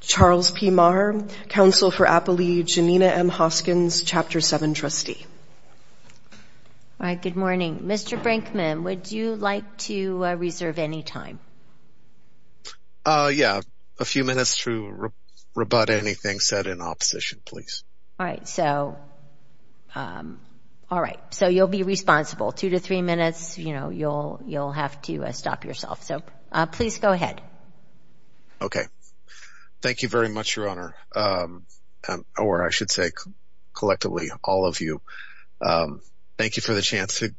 Charles P. Marr, Counsel for Appalachian. Nina M. Hoskins, Chapter 7 Trustee. All right, good morning. Mr. Brinkman, would you like to reserve any time? Yeah, a few minutes to rebut anything said in opposition, please. All right, so you'll be responsible. Two to three minutes, you'll have to stop yourself. So please go ahead. Okay. Thank you very much, Your Honor. Or I should say collectively, all of you. Thank you for the chance to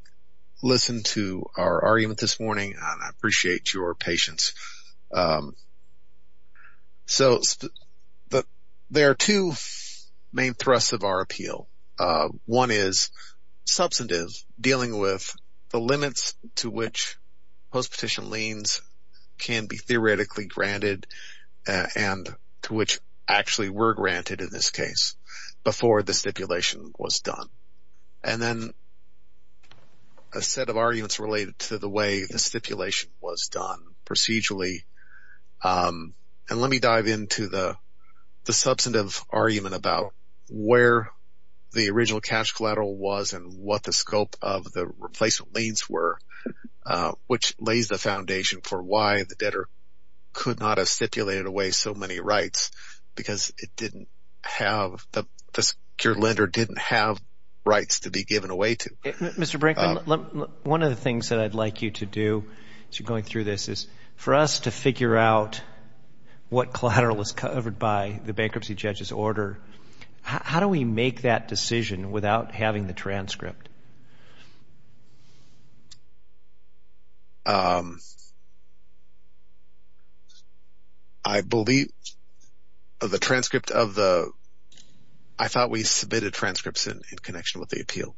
listen to our argument this morning, and I appreciate your patience. So there are two main thrusts of our appeal. One is substantive, dealing with the limits to which post-petition liens can be theoretically granted and to which actually were granted in this case before the stipulation was done. And then a set of arguments related to the way the stipulation was done procedurally. And let me dive into the substantive argument about where the original cash collateral was and what the scope of the replacement liens were, which lays the foundation for why the debtor could not have stipulated away so many rights, because the secure lender didn't have rights to be given away to. Mr. Brinkman, one of the things that I'd like you to do as you're going through this is for us to figure out what collateral was covered by the bankruptcy judge's order, how do we make that decision without having the transcript? I believe the transcript of the – I thought we submitted transcripts in connection with the appeal.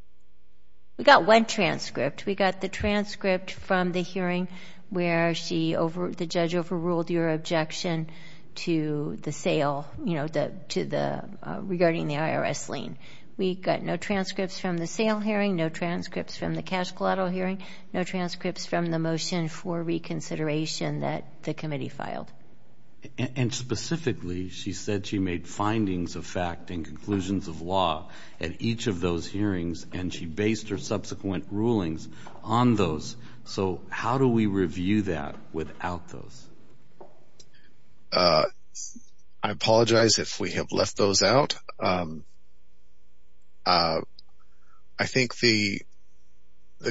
We got one transcript. We got the transcript from the hearing where the judge overruled your objection to the sale regarding the IRS lien. We got no transcripts from the sale hearing, no transcripts from the cash collateral hearing, no transcripts from the motion for reconsideration that the committee filed. And specifically, she said she made findings of fact and conclusions of law at each of those hearings, and she based her subsequent rulings on those. So how do we review that without those? I apologize if we have left those out. I think the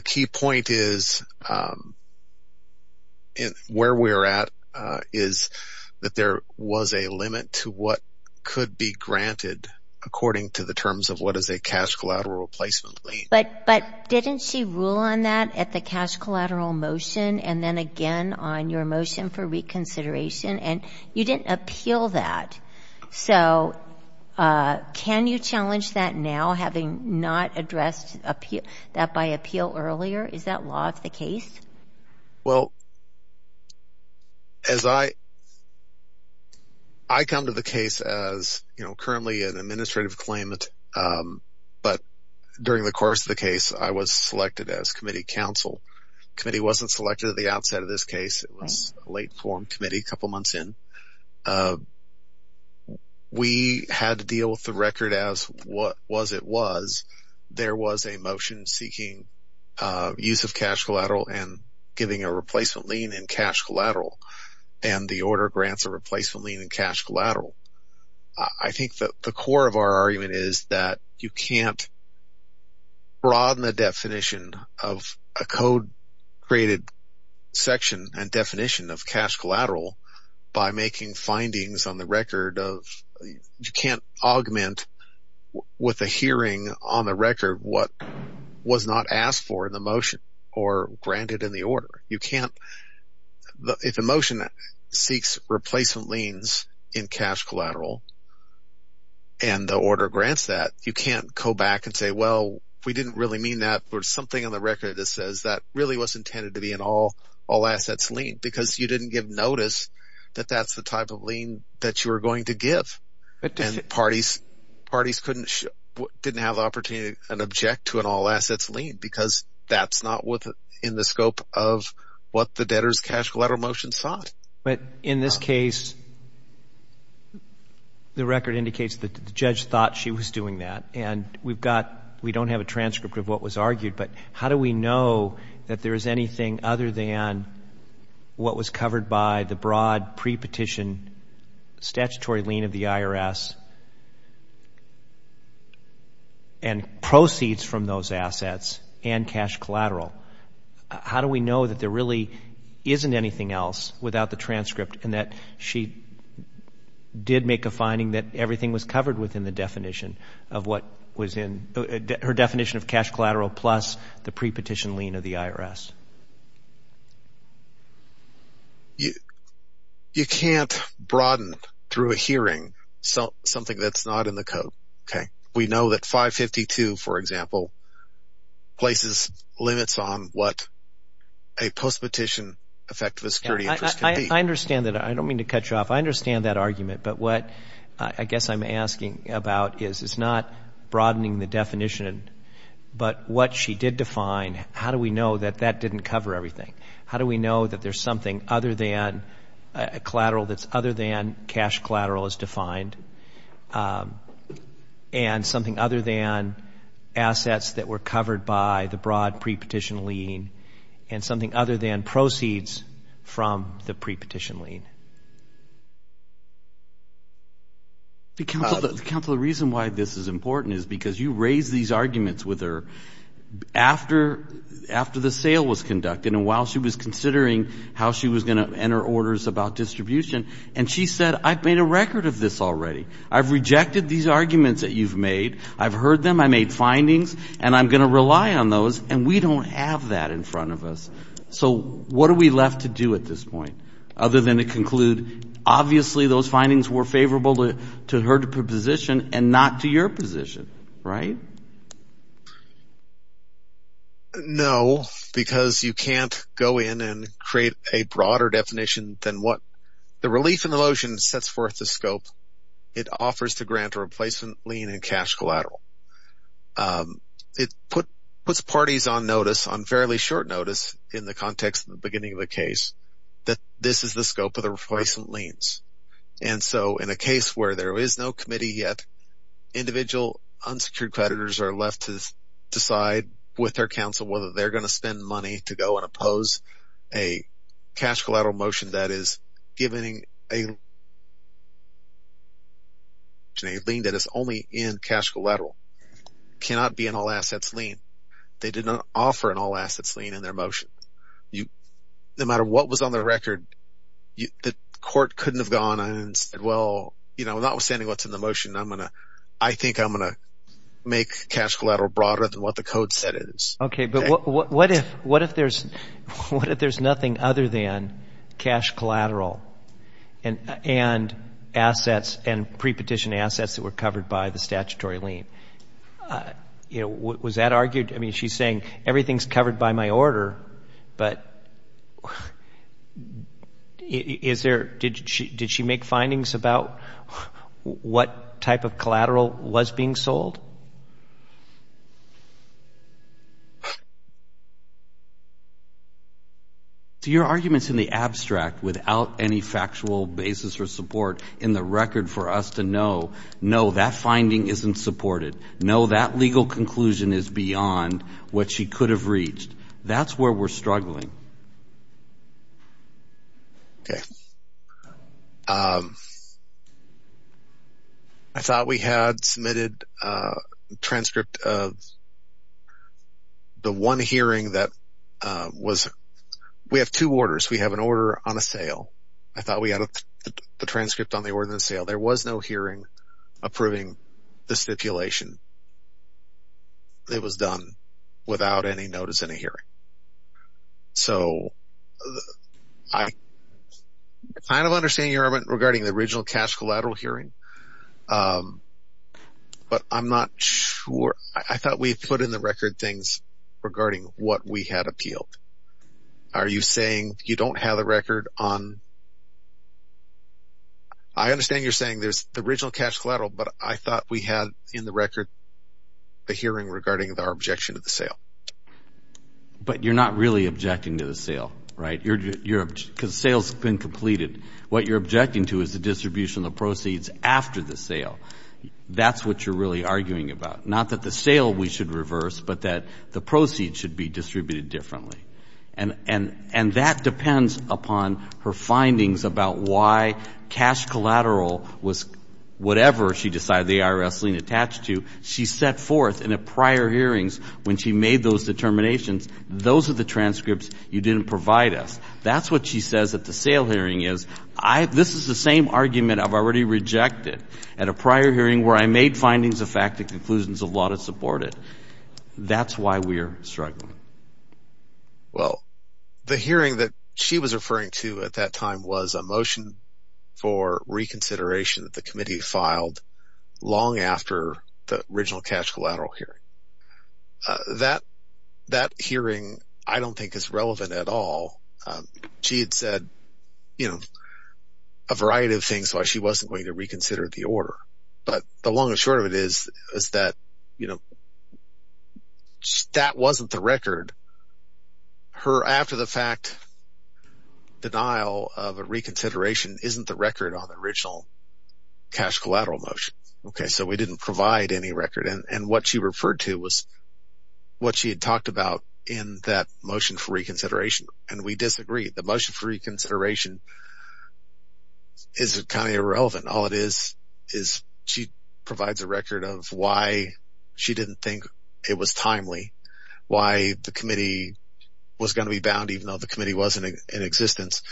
key point is where we're at is that there was a limit to what could be granted according to the terms of what is a cash collateral replacement lien. But didn't she rule on that at the cash collateral motion and then again on your motion for reconsideration? And you didn't appeal that. So can you challenge that now having not addressed that by appeal earlier? Is that law of the case? Well, as I – I come to the case as currently an administrative claimant, but during the course of the case, I was selected as committee counsel. The committee wasn't selected at the outset of this case. It was a late form committee a couple months in. We had to deal with the record as was it was. There was a motion seeking use of cash collateral and giving a replacement lien in cash collateral, and the order grants a replacement lien in cash collateral. I think that the core of our argument is that you can't broaden the definition of a code-created section and definition of cash collateral by making findings on the record of – what was not asked for in the motion or granted in the order. You can't – if the motion seeks replacement liens in cash collateral and the order grants that, you can't go back and say, well, we didn't really mean that. There's something on the record that says that really was intended to be an all-assets lien because you didn't give notice that that's the type of lien that you were going to give. Parties couldn't – didn't have the opportunity to object to an all-assets lien because that's not within the scope of what the debtor's cash collateral motion sought. But in this case, the record indicates that the judge thought she was doing that, and we've got – we don't have a transcript of what was argued, but how do we know that there is anything other than what was covered by the broad pre-petition statutory lien of the IRS and proceeds from those assets and cash collateral? How do we know that there really isn't anything else without the transcript and that she did make a finding that everything was covered within the definition of what was in – her definition of cash collateral plus the pre-petition lien of the IRS? You can't broaden through a hearing something that's not in the code, okay? We know that 552, for example, places limits on what a post-petition effective security interest can be. I understand that. I don't mean to cut you off. I understand that argument, but what I guess I'm asking about is it's not broadening the definition, but what she did define, how do we know that that didn't cover everything? How do we know that there's something other than collateral that's other than cash collateral is defined and something other than assets that were covered by the broad pre-petition lien and something other than proceeds from the pre-petition lien? Counsel, the reason why this is important is because you raised these arguments with her after the sale was conducted and while she was considering how she was going to enter orders about distribution, and she said, I've made a record of this already. I've rejected these arguments that you've made. I've heard them. I made findings, and I'm going to rely on those, and we don't have that in front of us. So what are we left to do at this point other than to conclude, obviously those findings were favorable to her position and not to your position, right? No, because you can't go in and create a broader definition than what the relief in the lotion sets forth the scope. It offers to grant a replacement lien and cash collateral. It puts parties on notice on fairly short notice in the context of the beginning of the case that this is the scope of the replacement liens. And so in a case where there is no committee yet, individual unsecured creditors are left to decide with their counsel whether they're going to spend money to go and oppose a cash collateral motion that is only in cash collateral. It cannot be an all-assets lien. They did not offer an all-assets lien in their motion. No matter what was on the record, the court couldn't have gone and said, well, notwithstanding what's in the motion, I think I'm going to make cash collateral broader than what the code said it is. Okay, but what if there's nothing other than cash collateral and assets and prepetition assets that were covered by the statutory lien? You know, was that argued? I mean, she's saying everything's covered by my order, but is there, did she make findings about what type of collateral was being sold? Your argument's in the abstract without any factual basis or support in the record for us to know, no, that finding isn't supported. No, that legal conclusion is beyond what she could have reached. That's where we're struggling. Okay. I thought we had submitted a transcript of the one hearing that was – we have two orders. We have an order on a sale. I thought we had the transcript on the order on the sale. There was no hearing approving the stipulation. It was done without any notice in a hearing. So I kind of understand your argument regarding the original cash collateral hearing, but I'm not sure – I thought we put in the record things regarding what we had appealed. Are you saying you don't have the record on – I understand you're saying there's the original cash collateral, but I thought we had in the record a hearing regarding our objection to the sale. But you're not really objecting to the sale, right? Because the sale's been completed. What you're objecting to is the distribution of the proceeds after the sale. That's what you're really arguing about. Not that the sale we should reverse, but that the proceeds should be distributed differently. And that depends upon her findings about why cash collateral was whatever she decided the IRS lien attached to. She set forth in the prior hearings when she made those determinations, those are the transcripts you didn't provide us. That's what she says at the sale hearing is, this is the same argument I've already rejected at a prior hearing where I made findings of fact and conclusions of law to support it. That's why we're struggling. Well, the hearing that she was referring to at that time was a motion for reconsideration that the committee filed long after the original cash collateral hearing. That hearing I don't think is relevant at all. She had said a variety of things why she wasn't going to reconsider the order. But the long and short of it is that that wasn't the record. Her after the fact denial of a reconsideration isn't the record on the original cash collateral motion. So we didn't provide any record. And what she referred to was what she had talked about in that motion for reconsideration. And we disagree. The motion for reconsideration is kind of irrelevant. All it is is she provides a record of why she didn't think it was timely, why the committee was going to be bound even though the committee was in existence.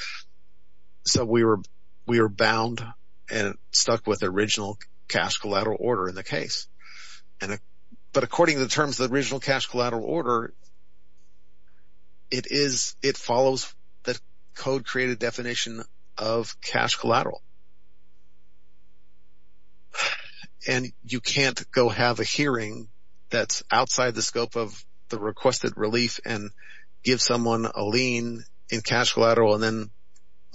So we were bound and stuck with the original cash collateral order in the case. But according to the terms of the original cash collateral order, it follows the code-created definition of cash collateral. And you can't go have a hearing that's outside the scope of the requested relief and give someone a lien in cash collateral and then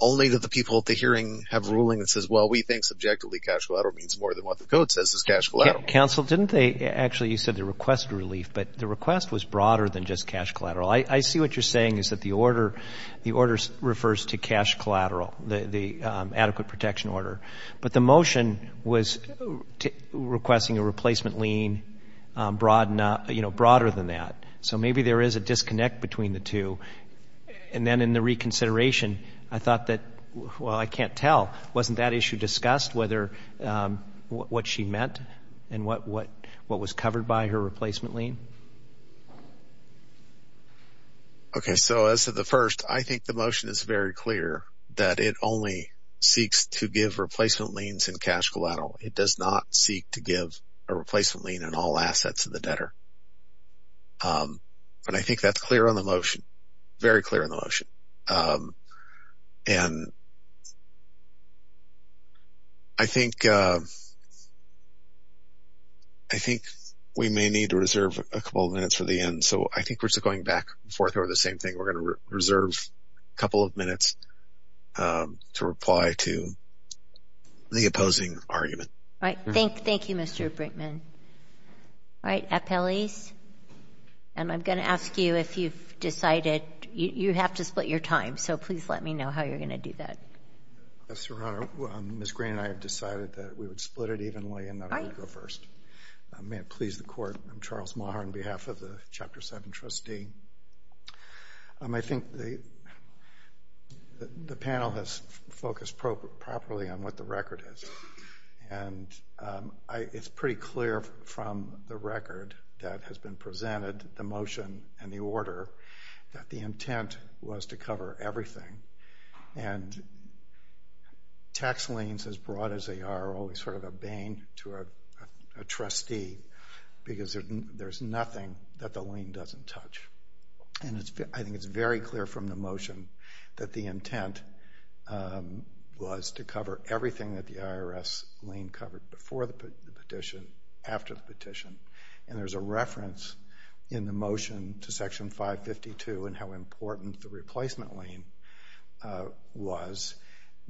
only the people at the hearing have ruling that says, well, we think subjectively cash collateral means more than what the code says is cash collateral. Counsel, didn't they actually, you said the requested relief, but the request was broader than just cash collateral. I see what you're saying is that the order refers to cash collateral, the adequate protection order. But the motion was requesting a replacement lien broader than that. So maybe there is a disconnect between the two. And then in the reconsideration, I thought that, well, I can't tell. Wasn't that issue discussed, what she meant and what was covered by her replacement lien? Okay, so as to the first, I think the motion is very clear that it only seeks to give replacement liens in cash collateral. It does not seek to give a replacement lien in all assets of the debtor. And I think that's clear on the motion, very clear on the motion. And I think we may need to reserve a couple of minutes for the end. So I think we're still going back and forth over the same thing. We're going to reserve a couple of minutes to reply to the opposing argument. All right. Thank you, Mr. Brinkman. All right. And I'm going to ask you if you've decided. You have to split your time, so please let me know how you're going to do that. Yes, Your Honor. Ms. Green and I have decided that we would split it evenly and that I would go first. May it please the Court, I'm Charles Maher on behalf of the Chapter 7 trustee. I think the panel has focused properly on what the record is. And it's pretty clear from the record that has been presented, the motion and the order, that the intent was to cover everything. And tax liens, as broad as they are, are always sort of a bane to a trustee because there's nothing that the lien doesn't touch. And I think it's very clear from the motion that the intent was to cover everything that the IRS lien covered before the petition, after the petition. And there's a reference in the motion to Section 552 and how important the replacement lien was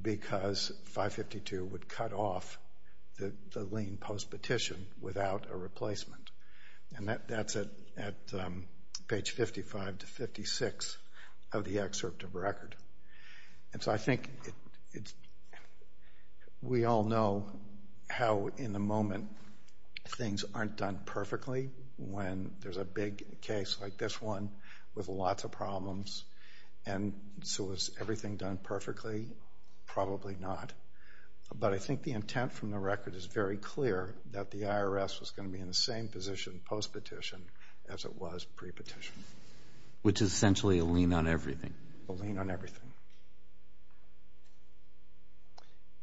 because 552 would cut off the lien post-petition without a replacement. And that's at page 55 to 56 of the excerpt of record. And so I think we all know how, in the moment, things aren't done perfectly when there's a big case like this one with lots of problems. And so is everything done perfectly? Probably not. But I think the intent from the record is very clear that the IRS was going to be in the same position post-petition as it was pre-petition. Which is essentially a lien on everything.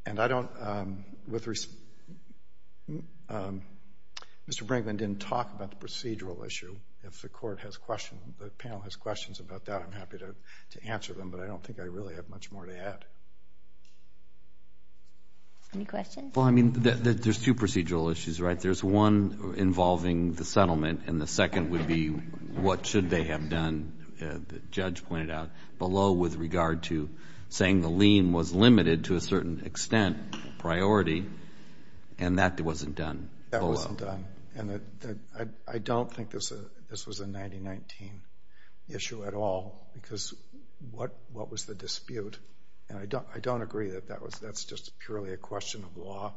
And I don't, with respect, Mr. Brinkman didn't talk about the procedural issue. If the Court has questions, if the panel has questions about that, I'm happy to answer them. But I don't think I really have much more to add. Any questions? Well, I mean, there's two procedural issues, right? There's one involving the settlement and the second would be what should they have done. And the judge pointed out below with regard to saying the lien was limited to a certain extent, priority, and that wasn't done below. That wasn't done. And I don't think this was a 1919 issue at all because what was the dispute? And I don't agree that that's just purely a question of law,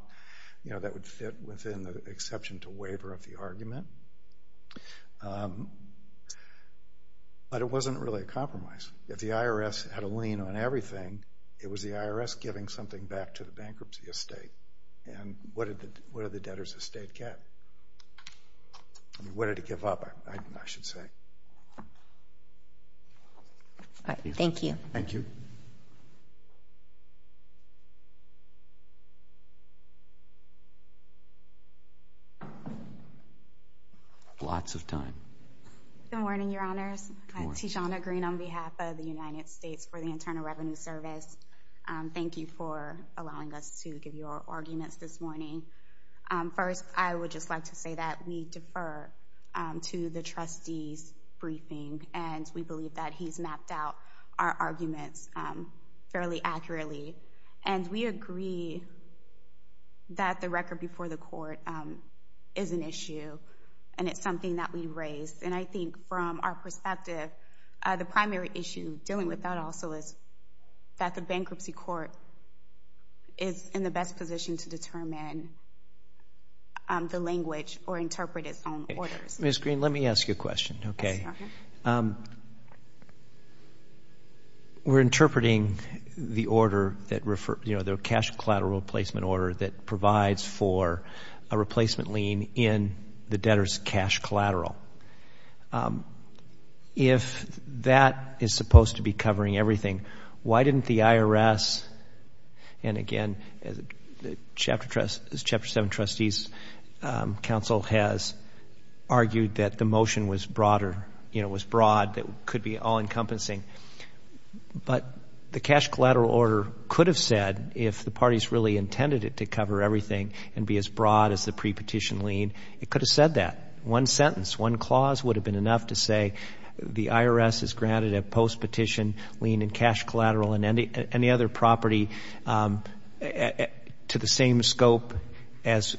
you know, that would fit within the exception to waiver of the argument. But it wasn't really a compromise. If the IRS had a lien on everything, it was the IRS giving something back to the bankruptcy estate. And what did the debtor's estate get? What did it give up, I should say. Thank you. Thank you. Lots of time. Good morning, Your Honors. Good morning. Tijana Green on behalf of the United States for the Internal Revenue Service. Thank you for allowing us to give your arguments this morning. First, I would just like to say that we defer to the trustee's briefing, and we believe that he's mapped out our arguments fairly accurately. And we agree that the record before the court is an issue, and it's something that we raised. And I think from our perspective, the primary issue dealing with that also is that the bankruptcy court is in the best position to determine the language or interpret its own orders. Ms. Green, let me ask you a question. Okay. We're interpreting the order that referred, you know, the cash collateral replacement order that provides for a replacement lien in the debtor's cash collateral. If that is supposed to be covering everything, why didn't the IRS, and again, as Chapter 7 Trustees Council has argued that the motion was broad that could be all-encompassing, but the cash collateral order could have said if the parties really intended it to cover everything and be as broad as the pre-petition lien, it could have said that. One sentence, one clause would have been enough to say the IRS has granted a post-petition lien in cash collateral and any other property to the same scope as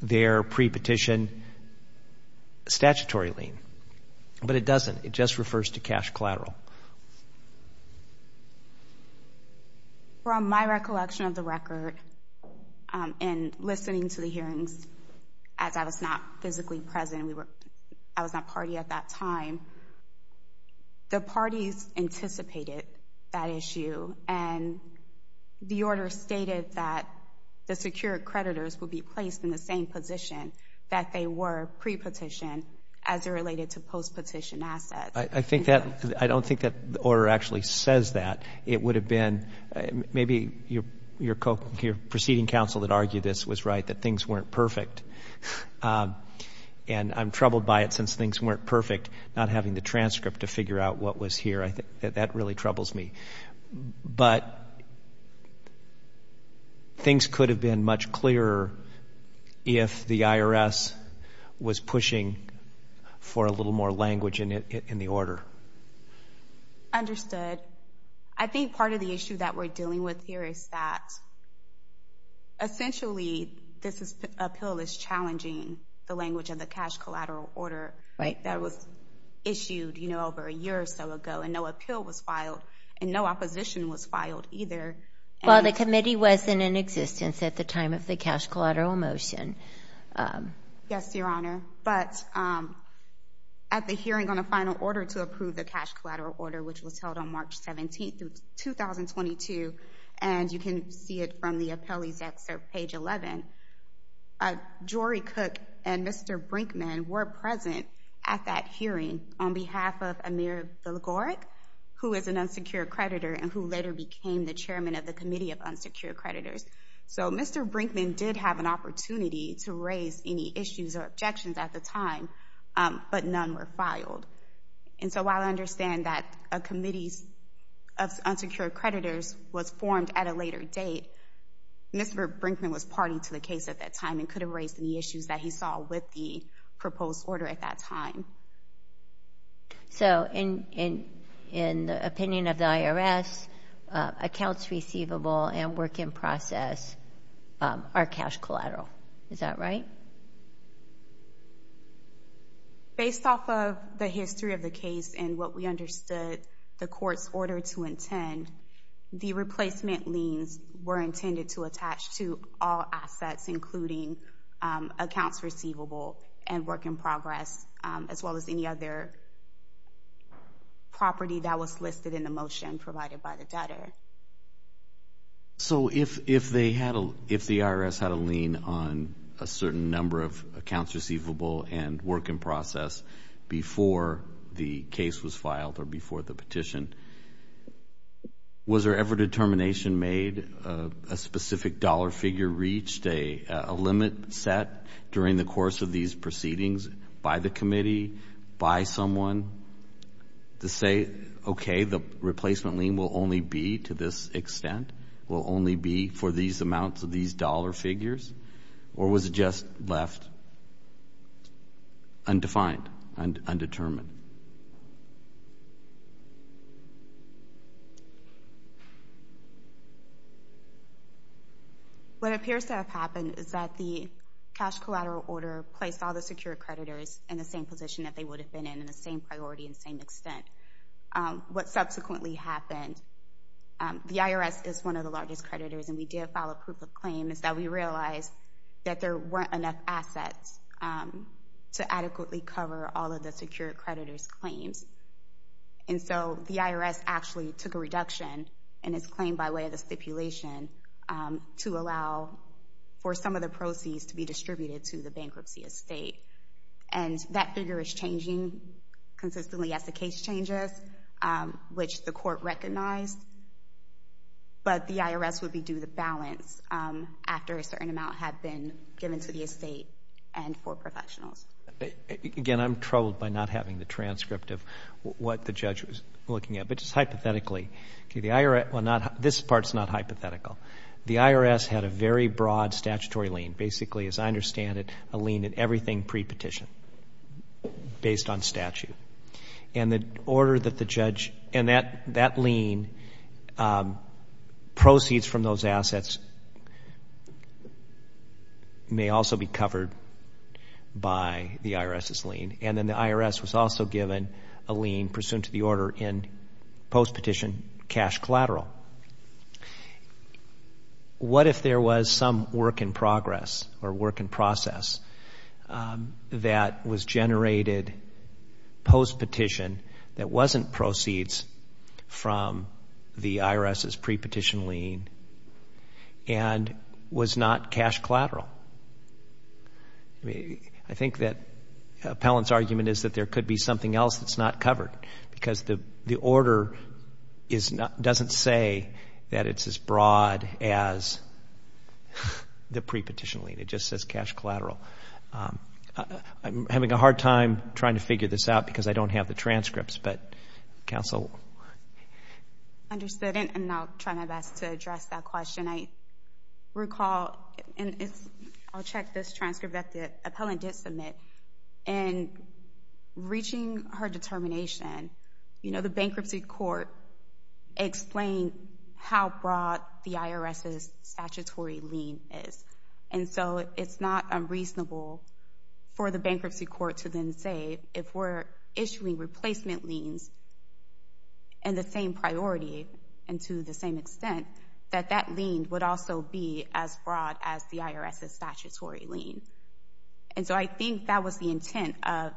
their pre-petition statutory lien. But it doesn't. It just refers to cash collateral. From my recollection of the record in listening to the hearings, as I was not physically present, I was not party at that time, the parties anticipated that issue, and the order stated that the secured creditors would be placed in the same position that they were pre-petition as it related to post-petition assets. I don't think that the order actually says that. It would have been maybe your proceeding council that argued this was right, that things weren't perfect. And I'm troubled by it since things weren't perfect, not having the transcript to figure out what was here. That really troubles me. But things could have been much clearer if the IRS was pushing for a little more language in the order. Understood. I think part of the issue that we're dealing with here is that essentially this appeal is challenging the language of the cash collateral order that was filed, and no opposition was filed either. Well, the committee wasn't in existence at the time of the cash collateral motion. Yes, Your Honor. But at the hearing on a final order to approve the cash collateral order, which was held on March 17th, 2022, and you can see it from the appellee's excerpt, page 11, Jory Cook and Mr. Brinkman were present at that hearing on behalf of Mr. Villagorek, who is an unsecured creditor, and who later became the chairman of the Committee of Unsecured Creditors. So Mr. Brinkman did have an opportunity to raise any issues or objections at the time, but none were filed. And so while I understand that a Committee of Unsecured Creditors was formed at a later date, Mr. Brinkman was party to the case at that time and could have raised any issues that he saw with the proposed order at that time. So in the opinion of the IRS, accounts receivable and work in process are cash collateral. Is that right? Based off of the history of the case and what we understood the court's order to intend, the replacement liens were intended to attach to all assets, including accounts receivable and work in progress, as well as any other property that was listed in the motion provided by the debtor. So if the IRS had a lien on a certain number of accounts receivable and work in process before the case was filed or before the petition, was there ever determination made a specific dollar figure reached, a limit set during the course of these proceedings by the committee, by someone to say, okay, the replacement lien will only be to this extent, will only be for these amounts of these dollar figures, or was it just left undefined, undetermined? What appears to have happened is that the cash collateral order placed all the secure creditors in the same position that they would have been in, in the same priority and same extent. What subsequently happened, the IRS is one of the largest creditors, and we did file a proof of claim, is that we realized that there weren't enough assets to adequately cover all of the secure creditors' claims. And so the IRS actually took a reduction in its claim by way of the stipulation to allow for some of the proceeds to be distributed to the bankruptcy estate. And that figure is changing consistently as the case changes, which the court recognized. But the IRS would be due the balance after a certain amount had been given to the estate and for professionals. Again, I'm troubled by not having the transcript of what the judge was looking at, but just hypothetically, the IRS, well, this part's not hypothetical. The IRS had a very broad statutory lien. Basically, as I understand it, a lien in everything pre-petition, based on statute. And the order that the judge, and that lien, proceeds from those assets may also be covered by the IRS's lien. And then the IRS was also given a lien pursuant to the order in post-petition cash collateral. What if there was some work in progress or work in process that was generated post-petition that wasn't proceeds from the IRS's pre-petition lien and was not cash collateral? I think that Appellant's argument is that there could be something else that's not covered because the order doesn't say that it's as broad as the pre-petition lien. It just says cash collateral. I'm having a hard time trying to figure this out because I don't have the transcripts, but counsel? Understood, and I'll try my best to address that question. I recall, and I'll check this transcript that the appellant did submit, in reaching her determination, you know, the bankruptcy court explained how broad the IRS's statutory lien is. And so it's not unreasonable for the bankruptcy court to then say, if we're issuing replacement liens in the same priority and to the same extent, that that lien would also be as broad as the IRS's statutory lien. And so I think that was the intent of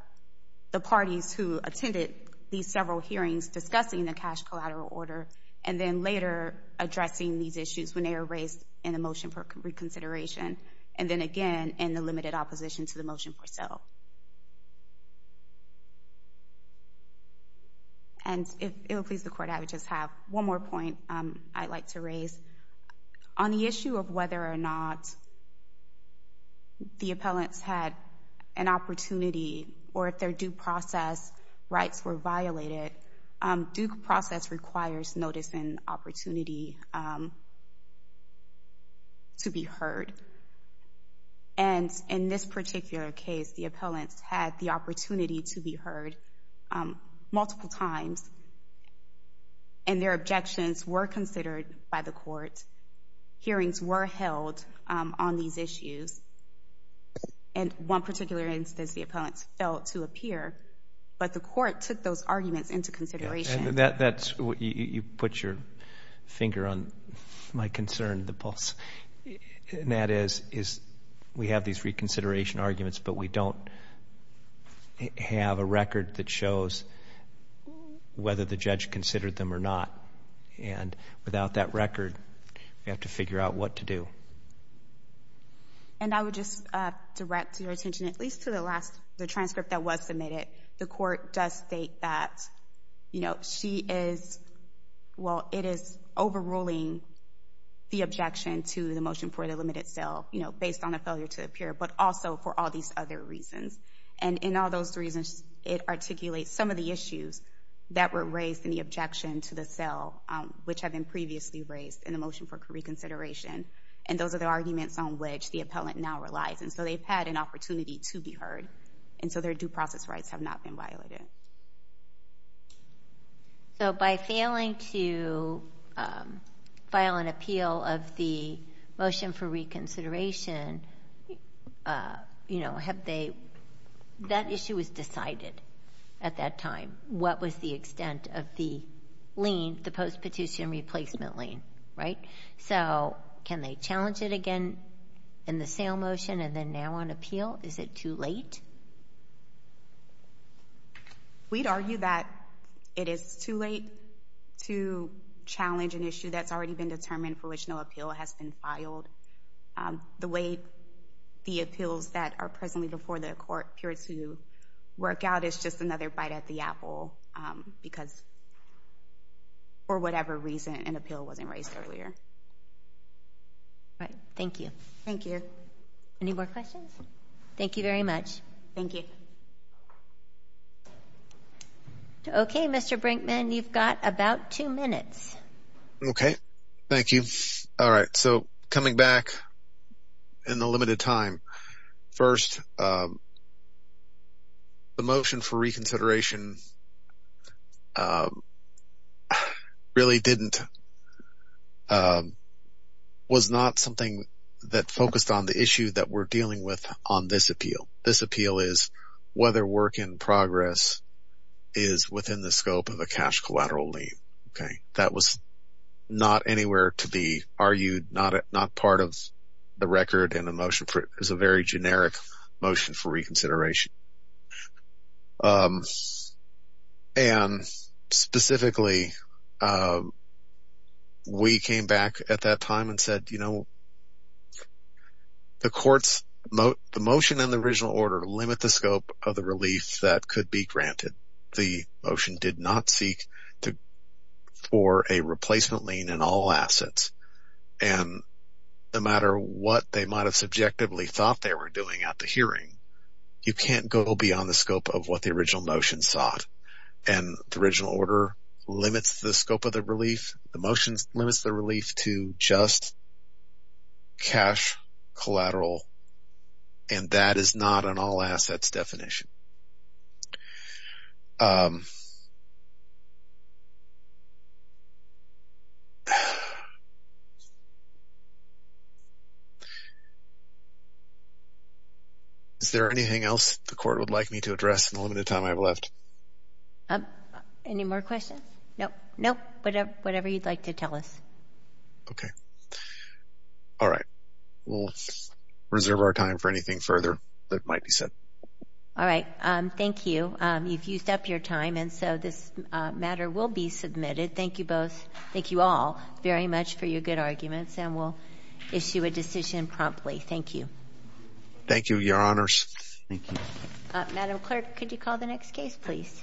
the parties who attended these several hearings discussing the cash collateral order and then later addressing these considerations. And then, again, in the limited opposition to the motion per se. And if it will please the Court, I would just have one more point I'd like to raise. On the issue of whether or not the appellants had an opportunity or if their due process rights were violated, due process requires notice and opportunity to be heard. And in this particular case, the appellants had the opportunity to be heard multiple times, and their objections were considered by the Court. Hearings were held on these issues. And one particular instance, the appellants failed to appear, but the Court took those arguments into consideration. You put your finger on my concern, the pulse. And that is, we have these reconsideration arguments, but we don't have a record that shows whether the judge considered them or not. And without that record, we have to figure out what to do. And I would just direct your attention at least to the last, the transcript that was submitted. The Court does state that, you know, she is, well, it is overruling the objection to the motion for the limited sale, you know, based on a failure to appear, but also for all these other reasons. And in all those reasons, it articulates some of the issues that were raised in the objection to the sale, which had been previously raised in the motion for reconsideration. And those are the arguments on which the appellant now relies. And so they've had an opportunity to be heard. And so their due process rights have not been violated. So by failing to file an appeal of the motion for reconsideration, you know, have they, that issue was decided at that time. What was the extent of the lien, the postpetition replacement lien, right? So can they challenge it again in the sale motion and then now on appeal? Is it too late? We'd argue that it is too late to challenge an issue that's already been determined for which no appeal has been filed. The way the appeals that are presently before the Court appear to work out is just another bite at the apple because, for whatever reason, an appeal wasn't raised earlier. Thank you. Thank you. Any more questions? Thank you very much. Thank you. Okay, Mr. Brinkman, you've got about two minutes. Okay. Thank you. All right, so coming back in the limited time, first the motion for reconsideration really didn't, was not something that focused on the issue that we're dealing with on this appeal. This appeal is whether work in progress is within the scope of a cash collateral lien. Okay. That was not anywhere to be argued, not part of the record, and the motion is a very generic motion for reconsideration. And specifically, we came back at that time and said, you know, the motion and the original order limit the scope of the relief that could be granted. The motion did not seek for a replacement lien in all assets, and no matter what they might have subjectively thought they were doing at the hearing, you can't go beyond the scope of what the original motion sought. And the original order limits the scope of the relief, the motion limits the relief to just cash collateral, and that is not an all assets definition. Is there anything else the court would like me to address in the limited time I have left? Any more questions? No. No. Whatever you'd like to tell us. Okay. All right. All right. Thank you. You've used up your time, and so this matter will be submitted. Thank you both. Thank you all very much for your good arguments, and we'll issue a decision promptly. Thank you. Thank you, Your Honors. Thank you. Madam Clerk, could you call the next case, please?